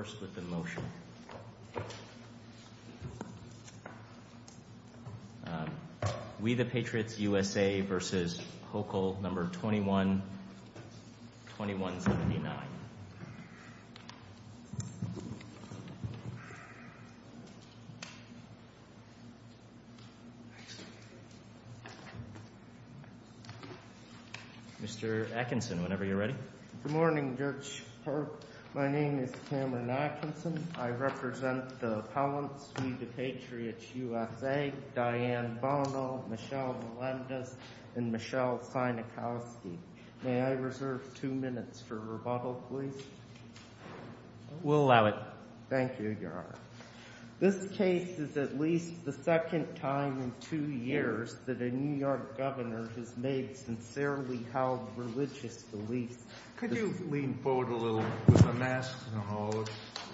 21, 2179. Mr. Atkinson, whenever you're ready. Good morning, Judge Park. My name is Cameron Atkinson. I represent the appellants v. the Patriots USA, Diane Bono, Michelle Melendez, and Michelle Sienkowski. May I reserve two minutes for rebuttal, please? We'll allow it. Thank you, Your Honor. This case is at least the second time in two years that a New York governor has made sincerely held religious beliefs. Could you lean forward a little, with a mask and all.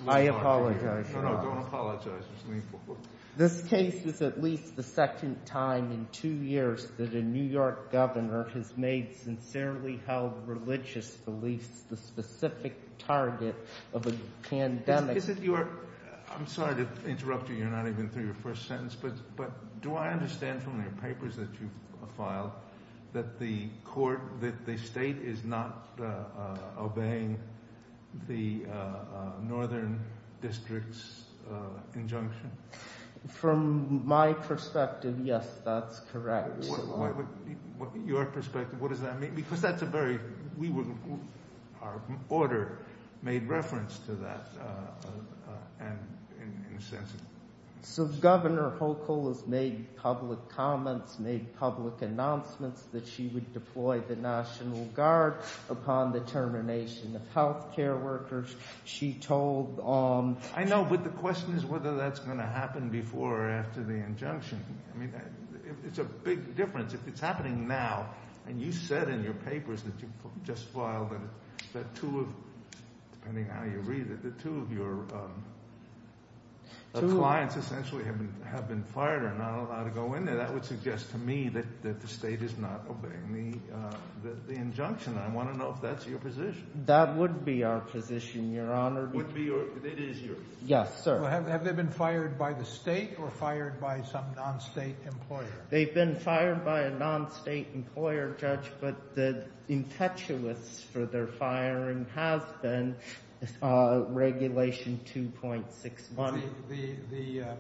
I apologize, Your Honor. No, no, don't apologize. Just lean forward. This case is at least the second time in two years that a New York governor has made sincerely held religious beliefs, the specific target of a pandemic. Is it your, I'm sorry to interrupt you, you're not even through your first sentence, but do I understand from your papers that you've filed that the court, that the state is not obeying the northern district's injunction? From my perspective, yes, that's correct. Your perspective, what does that mean? Because that's a very, we were, our order made reference to that, and So Governor Hochul has made public comments, made public announcements that she would deploy the National Guard upon the termination of health care workers. She told... I know, but the question is whether that's going to happen before or after the injunction. I mean, it's a big difference. If it's happening now, and you said in your papers that you just filed that two of, depending on how you read it, that two of your clients essentially have been fired or not allowed to go in there, that would suggest to me that the state is not obeying the injunction. I want to know if that's your position. That would be our position, Your Honor. Would be or it is yours? Yes, sir. Have they been fired by the state or fired by some non-state employer? They've been fired by a non-state employer, Judge, but the perpetuates for their firing has been Regulation 2.61.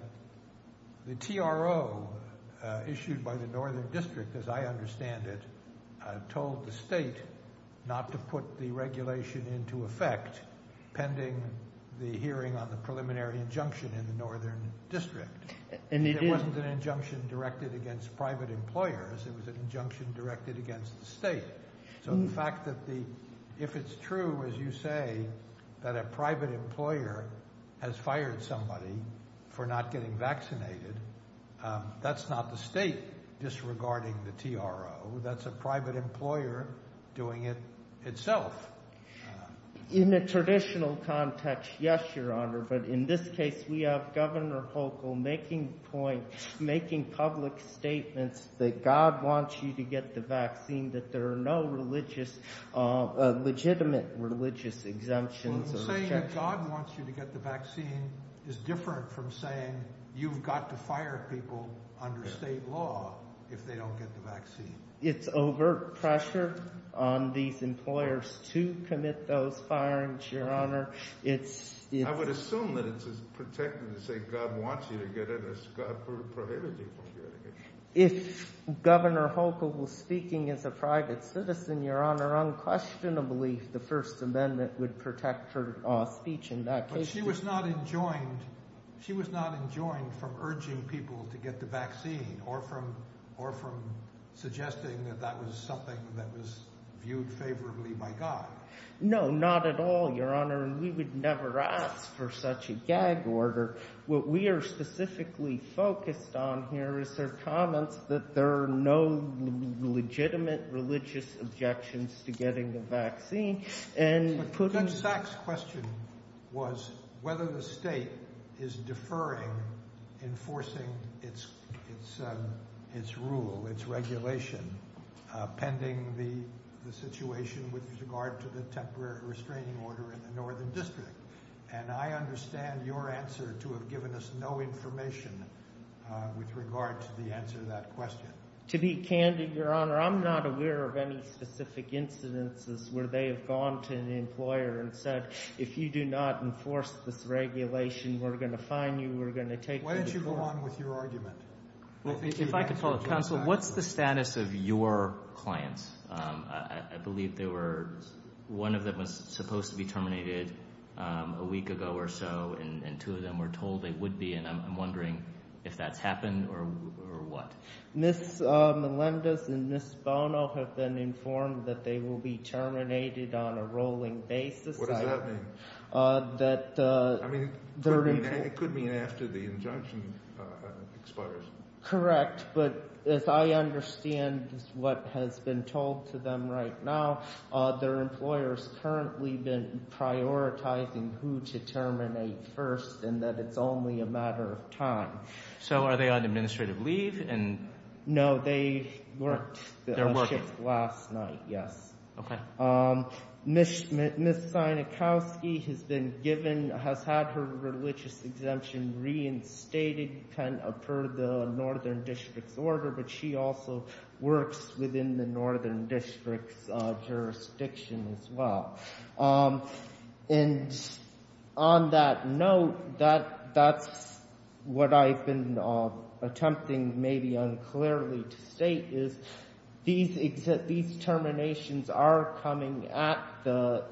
The TRO issued by the Northern District, as I understand it, told the state not to put the regulation into effect pending the hearing on the preliminary injunction in the Northern District. And it wasn't an injunction against private employers. It was an injunction directed against the state. So the fact that if it's true, as you say, that a private employer has fired somebody for not getting vaccinated, that's not the state disregarding the TRO. That's a private employer doing it itself. In a traditional context, yes, Your Honor. But in this case, we have Governor Hochul making public statements that God wants you to get the vaccine, that there are no religious, legitimate religious exemptions. Saying that God wants you to get the vaccine is different from saying you've got to fire people under state law if they don't get the vaccine. It's overt pressure on these employers to commit those firings, Your Honor. I would assume that it's protecting to say God wants you to get it as God prohibited you from getting it. If Governor Hochul was speaking as a private citizen, Your Honor, unquestionably, the First Amendment would protect her speech in that case. But she was not enjoined. She was not enjoined from urging people to get the vaccine or from suggesting that that was something that was viewed favorably by God. No, not at all, Your Honor. We would never ask for such a gag order. What we are specifically focused on here is their comments that there are no legitimate religious objections to getting the vaccine. Judge Sachs' question was whether the state is deferring enforcing its rule, its regulation, pending the situation with regard to the temporary restraining order in the Northern District. And I understand your answer to have given us no information with regard to the answer to that question. To be candid, Your Honor, I'm not aware of any specific incidences where they have gone to an employer and said, if you do not enforce this regulation, we're going to fine you, we're going to take you to court. Why don't you go on with your argument? Well, if I could follow up, Counsel, what's the status of your clients? I believe they were, one of them was supposed to be terminated a week ago or so, and two of them were told they would be. And I'm wondering if that's happened or what. Ms. Melendez and Ms. Bono have been informed that they will be terminated on a rolling basis. What does that mean? It could mean after the injunction expires. Correct, but as I understand what has been told to them right now, their employer's currently been prioritizing who to terminate first and that it's only a matter of time. So are they on administrative leave? No, they worked shift last night, yes. Okay. Ms. Sienkowski has been given, has had her religious exemption reinstated per the Northern District's order, but she also works within the Northern District's jurisdiction as well. And on that note, that's what I've been attempting maybe unclearly to state is these terminations are coming at the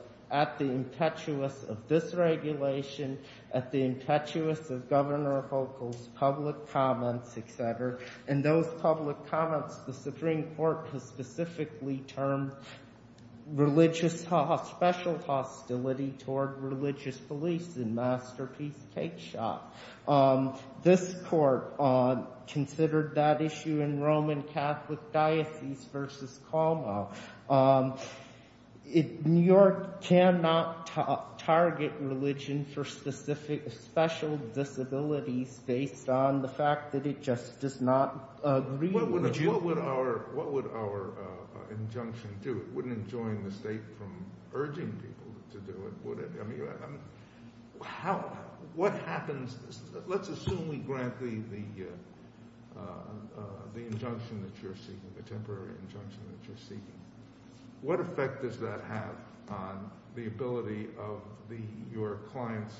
impetuous of this regulation, at the impetuous of Governor Volkow's public comments, et cetera. And those public comments, the Supreme Court has specifically termed religious special hostility toward religious police in Masterpiece Cakeshop. This court considered that issue in Roman Catholic Diocese versus Colmo. New York cannot target religion for specific special disabilities based on the fact that it just does not agree. What would our injunction do? It wouldn't enjoin the state from urging people to do it, would it? What happens, let's assume we grant the injunction that you're seeking, the temporary injunction that you're seeking. What effect does that have on the ability of your client's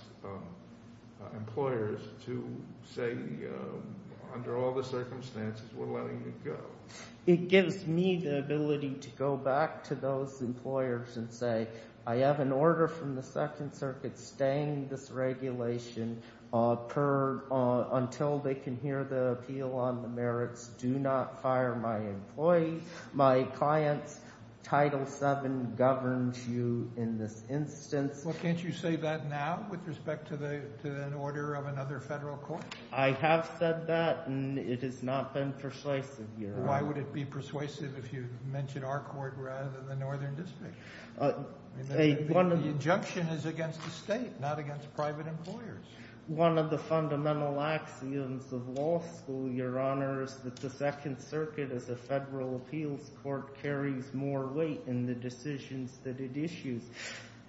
employers to say, under all the circumstances, we're letting you go? It gives me the ability to go back to those employers and say, I have an order from the Second Circuit staying this regulation until they can hear the appeal on the merits. Do not say that now with respect to the order of another federal court? I have said that, and it has not been persuasive. Why would it be persuasive if you mention our court rather than the Northern District? The injunction is against the state, not against private employers. One of the fundamental axioms of law school, Your Honor, is that the Second Circuit as a federal appeals court carries more weight in the decisions that it issues.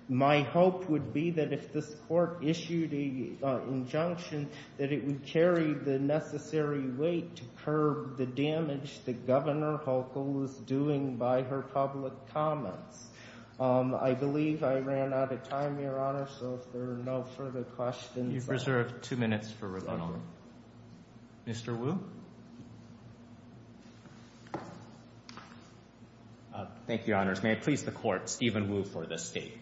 My hope would be that if this court issued a injunction, that it would carry the necessary weight to curb the damage that Governor Hochul was doing by her public comments. I believe I ran out of time, Your Honor, so if there are no further questions... You've reserved two minutes for rebuttal. Mr. Wu? Thank you, Your Honors. May it please the Court, Stephen Wu for the State.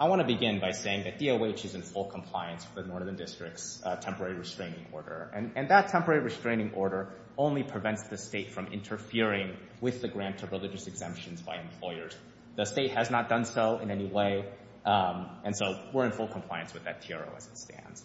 I want to begin by saying that DOH is in full compliance with Northern District's temporary restraining order, and that temporary restraining order only prevents the State from interfering with the grant of religious exemptions by employers. The State has not done so in any way, and so we're in compliance with that TRO as it stands.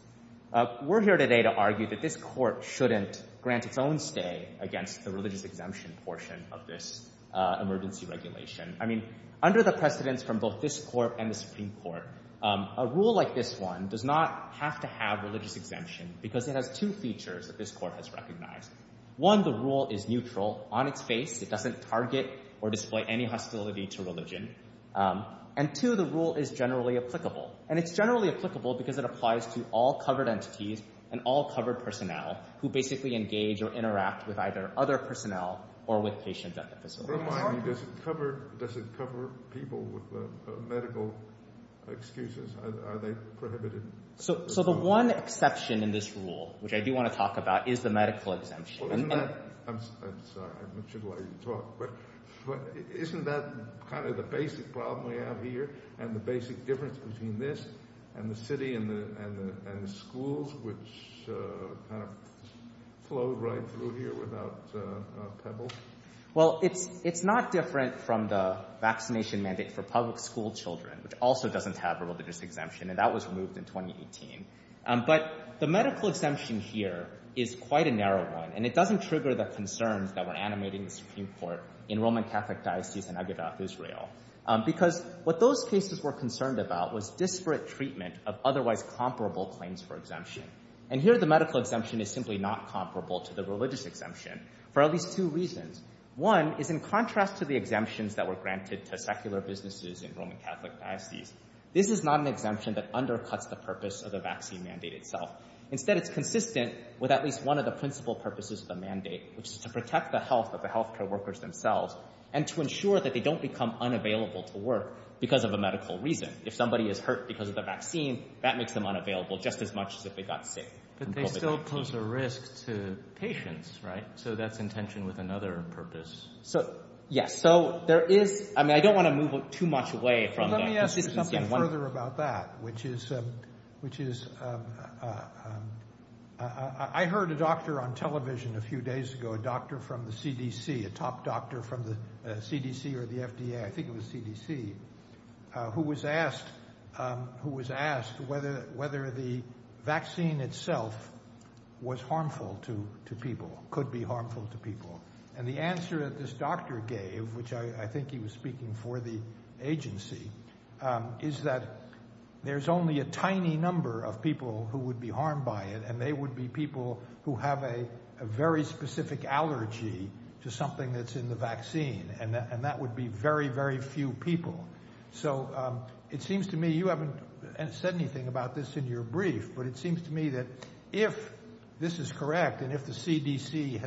We're here today to argue that this court shouldn't grant its own stay against the religious exemption portion of this emergency regulation. I mean, under the precedence from both this court and the Supreme Court, a rule like this one does not have to have religious exemption because it has two features that this court has recognized. One, the rule is neutral on its face. It doesn't target or display any hostility to religion. And two, the rule is generally applicable, and it's generally applicable because it applies to all covered entities and all covered personnel who basically engage or interact with either other personnel or with patients at the facility. Remind me, does it cover people with medical excuses? Are they prohibited? So the one exception in this rule, which I do want to talk about, is the medical exemption. Isn't that kind of the basic problem we have here and the basic difference between this and the city and the schools, which kind of flow right through here without pebbles? Well, it's not different from the vaccination mandate for public school children, which also doesn't have a religious exemption, and that was removed in 2018. But the medical exemption here is quite a narrow one, and it doesn't trigger the concerns that were animated in the Supreme Court in Roman Catholic Diocese and Agedath Israel because what those cases were concerned about was disparate treatment of otherwise comparable claims for exemption. And here the medical exemption is simply not comparable to the religious exemption for at least two reasons. One is in contrast to the exemptions that were granted to secular businesses in Roman Catholic Diocese. This is not an exemption that undercuts the purpose of at least one of the principal purposes of the mandate, which is to protect the health of the health care workers themselves and to ensure that they don't become unavailable to work because of a medical reason. If somebody is hurt because of the vaccine, that makes them unavailable just as much as if they got sick. But they still pose a risk to patients, right? So that's in tension with another purpose. So, yes. So there is, I mean, I don't want to move too much away from that. Let me ask you something further about that, which is I heard a doctor on television a few days ago, a doctor from the CDC, a top doctor from the CDC or the FDA, I think it was CDC, who was asked whether the vaccine itself was harmful to people, could be harmful to people. And the answer that this doctor gave, which I think he was speaking for the agency, is that there's only a tiny number of people who would be harmed by it. And they would be people who have a very specific allergy to something that's in the vaccine. And that would be very, very few people. So it seems to me you haven't said anything about this in your brief, but it seems to me that if this is correct, and if the CDC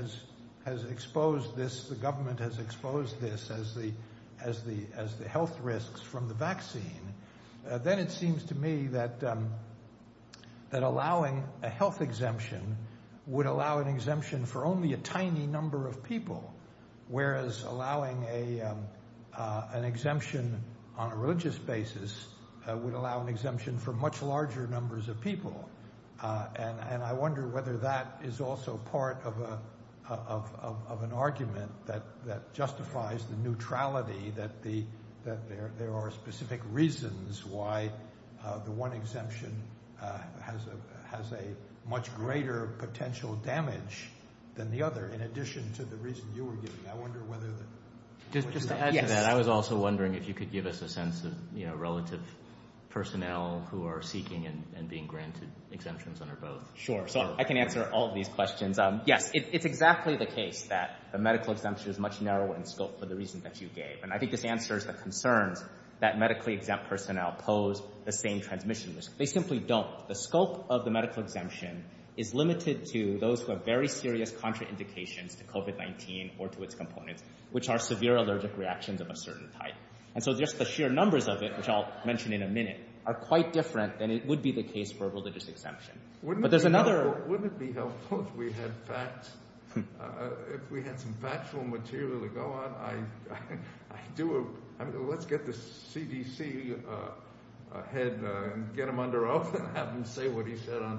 has exposed this, the government has exposed this as the health risks from the vaccine, then it seems to me that allowing a health exemption would allow an exemption for only a tiny number of people, whereas allowing an exemption on a religious basis would allow an exemption for much larger numbers of people. And I wonder whether that is also part of an argument that justifies the neutrality, that there are specific reasons why the one exemption has a much greater potential damage than the other, in addition to the reason you were giving. I wonder whether... Just to add to that, I was also wondering if you could give us a sense of relative personnel who are seeking and being granted exemptions under both. Sure. So I can answer all of these questions. Yes, it's exactly the case that the medical exemption is much narrower in scope for the reason that you gave. And I think this answers the concerns that medically exempt personnel pose the same transmission risk. They simply don't. The scope of the medical exemption is limited to those who have very serious contraindications to COVID-19 or to its components, which are severe allergic reactions of a certain type. And so just the sheer numbers of it, which I'll mention in a minute, are quite different than it would be the case for a religious exemption. Wouldn't it be helpful if we had some factual material to go on? Let's get the CDC head and get him under oath and have him say what he said on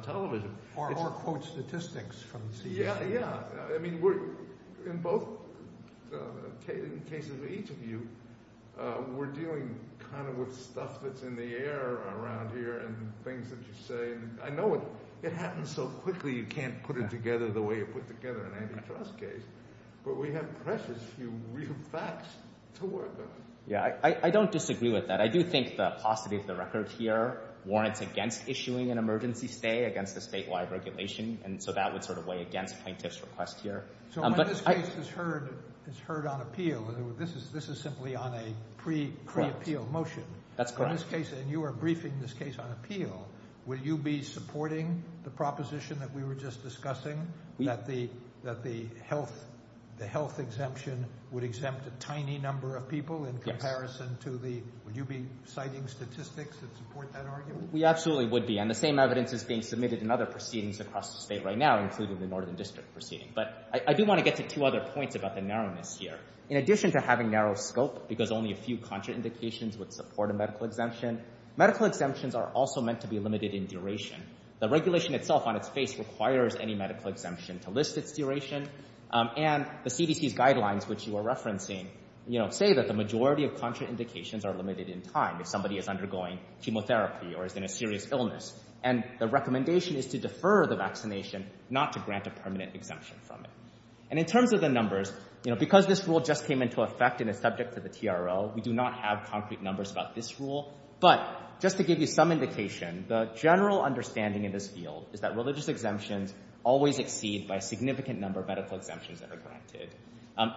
We're dealing with stuff that's in the air around here and things that you say. And I know it happens so quickly, you can't put it together the way you put together an antitrust case. But we have precious few real facts to work on. Yeah, I don't disagree with that. I do think the paucity of the record here warrants against issuing an emergency stay against this statewide regulation. And so that would weigh against plaintiff's request here. So when this case is heard on appeal, this is simply on a pre-appeal motion. That's correct. In this case, and you are briefing this case on appeal, will you be supporting the proposition that we were just discussing? That the health exemption would exempt a tiny number of people in comparison to the... Would you be citing statistics that support that argument? We absolutely would be. And the same evidence is being submitted in other proceedings across the state right now, including the Northern District proceeding. But I do want to get to two other points about the narrowness here. In addition to having narrow scope, because only a few contraindications would support a medical exemption, medical exemptions are also meant to be limited in duration. The regulation itself on its face requires any medical exemption to list its duration. And the CDC's guidelines, which you are referencing, say that the majority of contraindications are limited in time. If somebody is undergoing chemotherapy or is in a serious illness, and the recommendation is to defer the vaccination, not to grant a permanent exemption from it. And in terms of the numbers, because this rule just came into effect and is subject to the TRL, we do not have concrete numbers about this rule. But just to give you some indication, the general understanding in this field is that religious exemptions always exceed by a significant number of medical exemptions that are granted.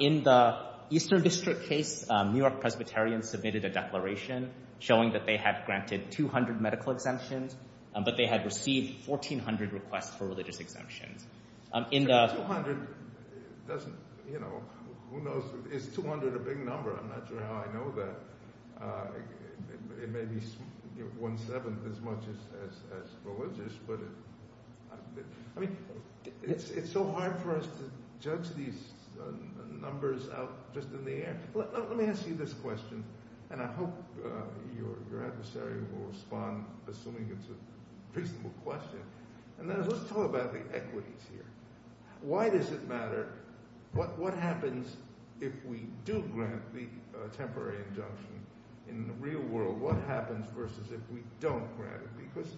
In the Eastern District case, New York Presbyterians submitted a declaration showing that they had granted 200 medical exemptions, but they had received 1,400 requests for religious exemptions. So 200 doesn't, you know, who knows, is 200 a big number? I'm not sure how I know that. It may be one-seventh as much as religious, but I mean, it's so hard for us to judge these numbers out just in the air. Let me ask you this question, and I hope your adversary will respond, assuming it's a reasonable question. And then let's talk about the equities here. Why does it matter? What happens if we do grant the temporary injunction in the real world? What happens versus if we don't grant it? Because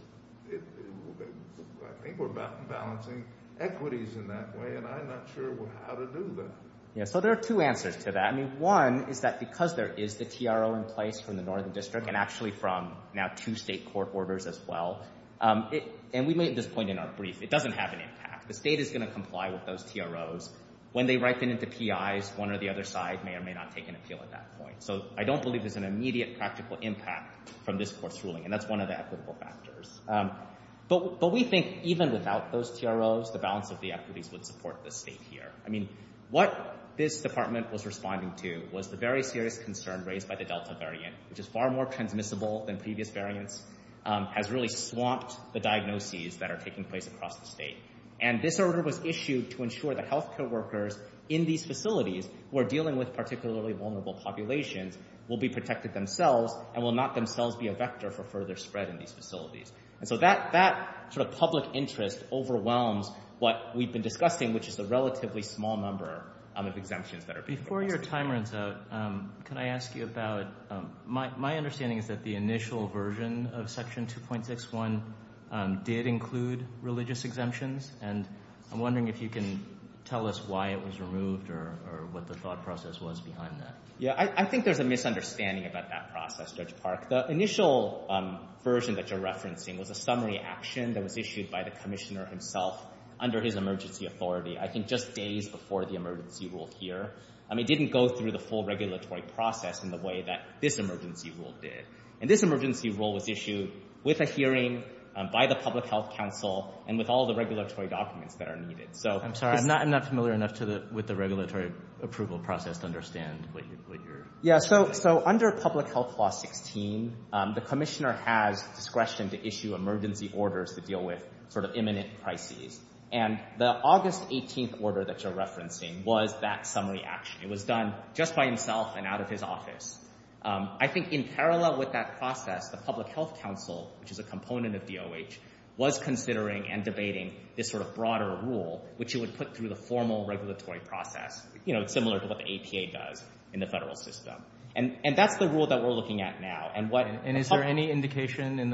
I think we're balancing equities in that way, and I'm not sure how to do that. Yeah, so there are two answers to that. I mean, one is that there is the TRO in place from the Northern District and actually from now two state court orders as well. And we made this point in our brief. It doesn't have an impact. The state is going to comply with those TROs. When they ripen into PIs, one or the other side may or may not take an appeal at that point. So I don't believe there's an immediate practical impact from this Court's ruling, and that's one of the equitable factors. But we think even without those TROs, the balance of the equities would support the state here. I mean, what this Department was very serious concern raised by the Delta variant, which is far more transmissible than previous variants, has really swamped the diagnoses that are taking place across the state. And this order was issued to ensure that healthcare workers in these facilities who are dealing with particularly vulnerable populations will be protected themselves and will not themselves be a vector for further spread in these facilities. And so that sort of public interest overwhelms what we've been discussing, which is a relatively small number of exemptions that are being proposed. Before your timer runs out, can I ask you about—my understanding is that the initial version of Section 2.61 did include religious exemptions, and I'm wondering if you can tell us why it was removed or what the thought process was behind that. Yeah, I think there's a misunderstanding about that process, Judge Park. The initial version that you're referencing was a summary action that was issued by the Commissioner himself under his emergency authority, I think just days before the emergency rule here. I mean, it didn't go through the full regulatory process in the way that this emergency rule did. And this emergency rule was issued with a hearing by the Public Health Council and with all the regulatory documents that are needed. I'm sorry, I'm not familiar enough with the regulatory approval process to understand what you're— Yeah, so under Public Health Law 16, the Commissioner has discretion to issue emergency orders to deal with imminent crises. And the August 18th order that you're referencing was that summary action. It was done just by himself and out of his office. I think in parallel with that process, the Public Health Council, which is a component of DOH, was considering and debating this broader rule, which it would put through the formal regulatory process, similar to what the APA does in the federal system. And that's the rule that we're looking at now. And is there any in the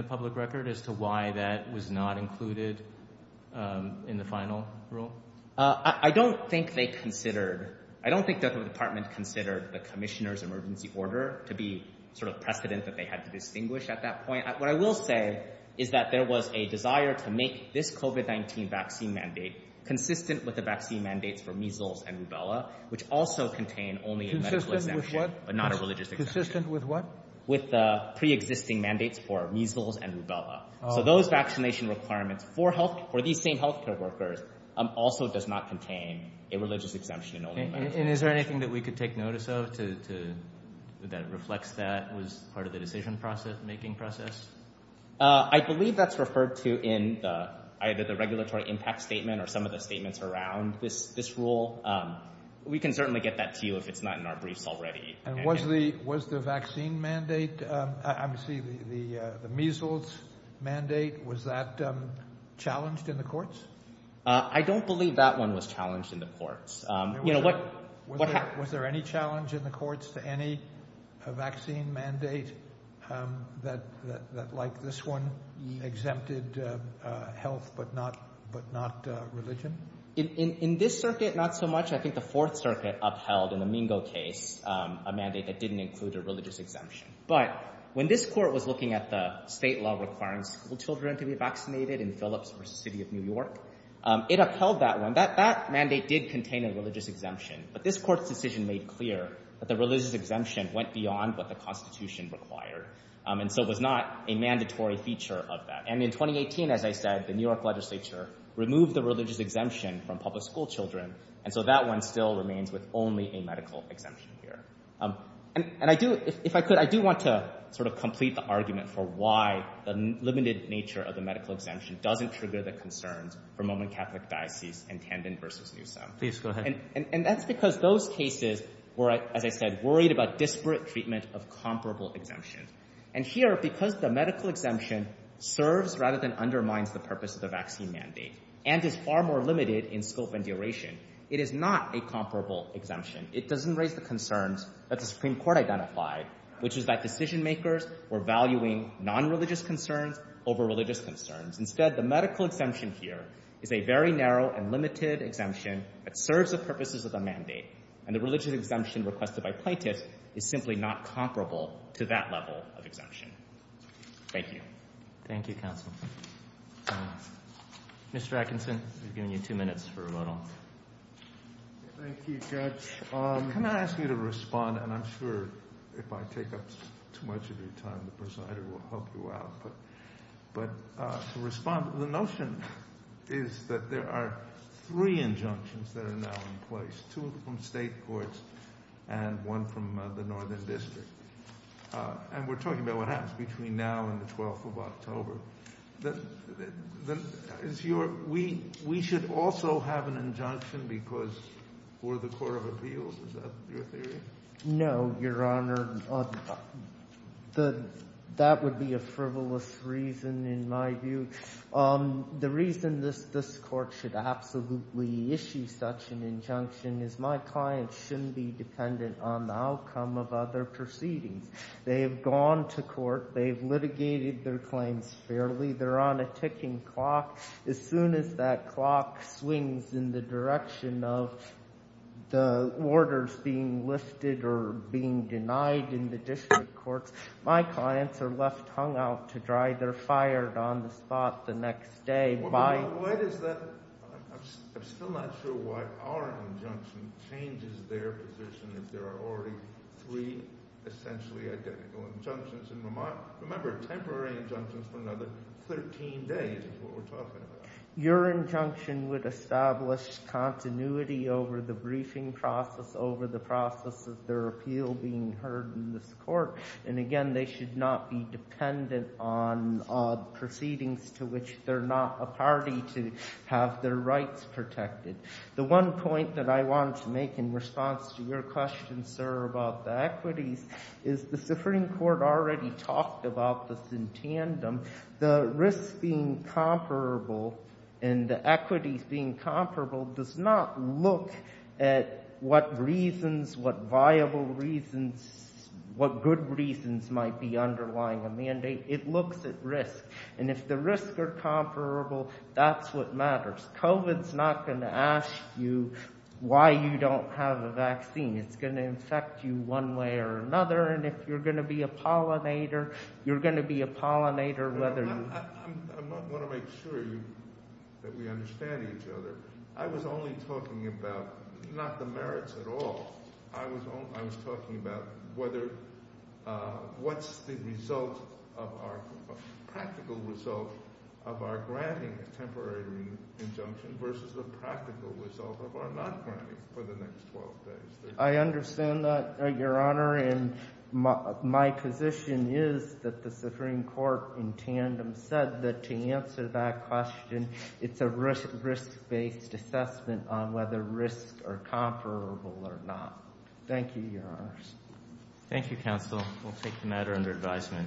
final rule? I don't think they considered—I don't think the Department considered the Commissioner's emergency order to be sort of precedent that they had to distinguish at that point. What I will say is that there was a desire to make this COVID-19 vaccine mandate consistent with the vaccine mandates for measles and rubella, which also contain only a medical exemption, but not a religious exemption. Consistent with what? With the pre-existing mandates for measles and rubella. So those vaccination requirements for health—for these same healthcare workers also does not contain a religious exemption. And is there anything that we could take notice of to—that reflects that was part of the decision process, making process? I believe that's referred to in either the regulatory impact statement or some of the statements around this rule. We can certainly get that to you if it's not in our the measles mandate. Was that challenged in the courts? I don't believe that one was challenged in the courts. Was there any challenge in the courts to any vaccine mandate that, like this one, exempted health but not religion? In this circuit, not so much. I think the Fourth Circuit upheld, in the Mingo case, a mandate that didn't include a religious exemption. But when this court was state law requiring school children to be vaccinated in Phillips v. City of New York, it upheld that one. That mandate did contain a religious exemption. But this court's decision made clear that the religious exemption went beyond what the Constitution required. And so it was not a mandatory feature of that. And in 2018, as I said, the New York legislature removed the religious exemption from public school children. And so that one still remains with only a medical exemption here. And I do, if I could, I do want to sort of complete the argument for why the limited nature of the medical exemption doesn't trigger the concerns for Mormon Catholic Diocese and Tandon v. Newsom. And that's because those cases were, as I said, worried about disparate treatment of comparable exemptions. And here, because the medical exemption serves rather than undermines the purpose of the vaccine mandate and is far more It doesn't raise the concerns that the Supreme Court identified, which is that decision-makers were valuing nonreligious concerns over religious concerns. Instead, the medical exemption here is a very narrow and limited exemption that serves the purposes of the mandate. And the religious exemption requested by plaintiffs is simply not comparable to that level of exemption. Thank you. Thank you, counsel. Mr. Atkinson, we've given you two minutes for a vote on. Thank you, Judge. Can I ask you to respond? And I'm sure if I take up too much of your time, the presider will help you out. But to respond, the notion is that there are three injunctions that are now in place, two from state courts and one from the Northern District. And we're on the 12th of October. We should also have an injunction because we're the Court of Appeals, is that your theory? No, Your Honor. That would be a frivolous reason, in my view. The reason this Court should absolutely issue such an injunction is my client shouldn't be their claims fairly. They're on a ticking clock. As soon as that clock swings in the direction of the orders being lifted or being denied in the district courts, my clients are left hung out to dry. They're fired on the spot the next day. Why is that? I'm still not sure why our injunction changes their position if there are already three essentially identical injunctions. And remember, temporary injunctions for another 13 days is what we're talking about. Your injunction would establish continuity over the briefing process, over the process of their appeal being heard in this court. And again, they should not be dependent on proceedings to which they're not a party to have their rights protected. The one point that I want to make in response to your question, sir, about the equities, is the Supreme Court already talked about this in tandem. The risks being comparable and the equities being comparable does not look at what reasons, what viable reasons, what good reasons might be underlying a mandate. It looks at risk. And if the risks are comparable, that's what matters. COVID's not going to ask you why you don't have a vaccine. It's going to infect you one way or another. And if you're going to be a pollinator, you're going to be a pollinator whether you... I want to make sure that we understand each other. I was only talking about not the merits at all. I was talking about whether what's the result of our practical result of our granting a temporary injunction versus the for the next 12 days. I understand that, Your Honor. And my position is that the Supreme Court in tandem said that to answer that question, it's a risk-based assessment on whether risks are comparable or not. Thank you, Your Honors. Thank you, counsel. We'll take the matter under advisement.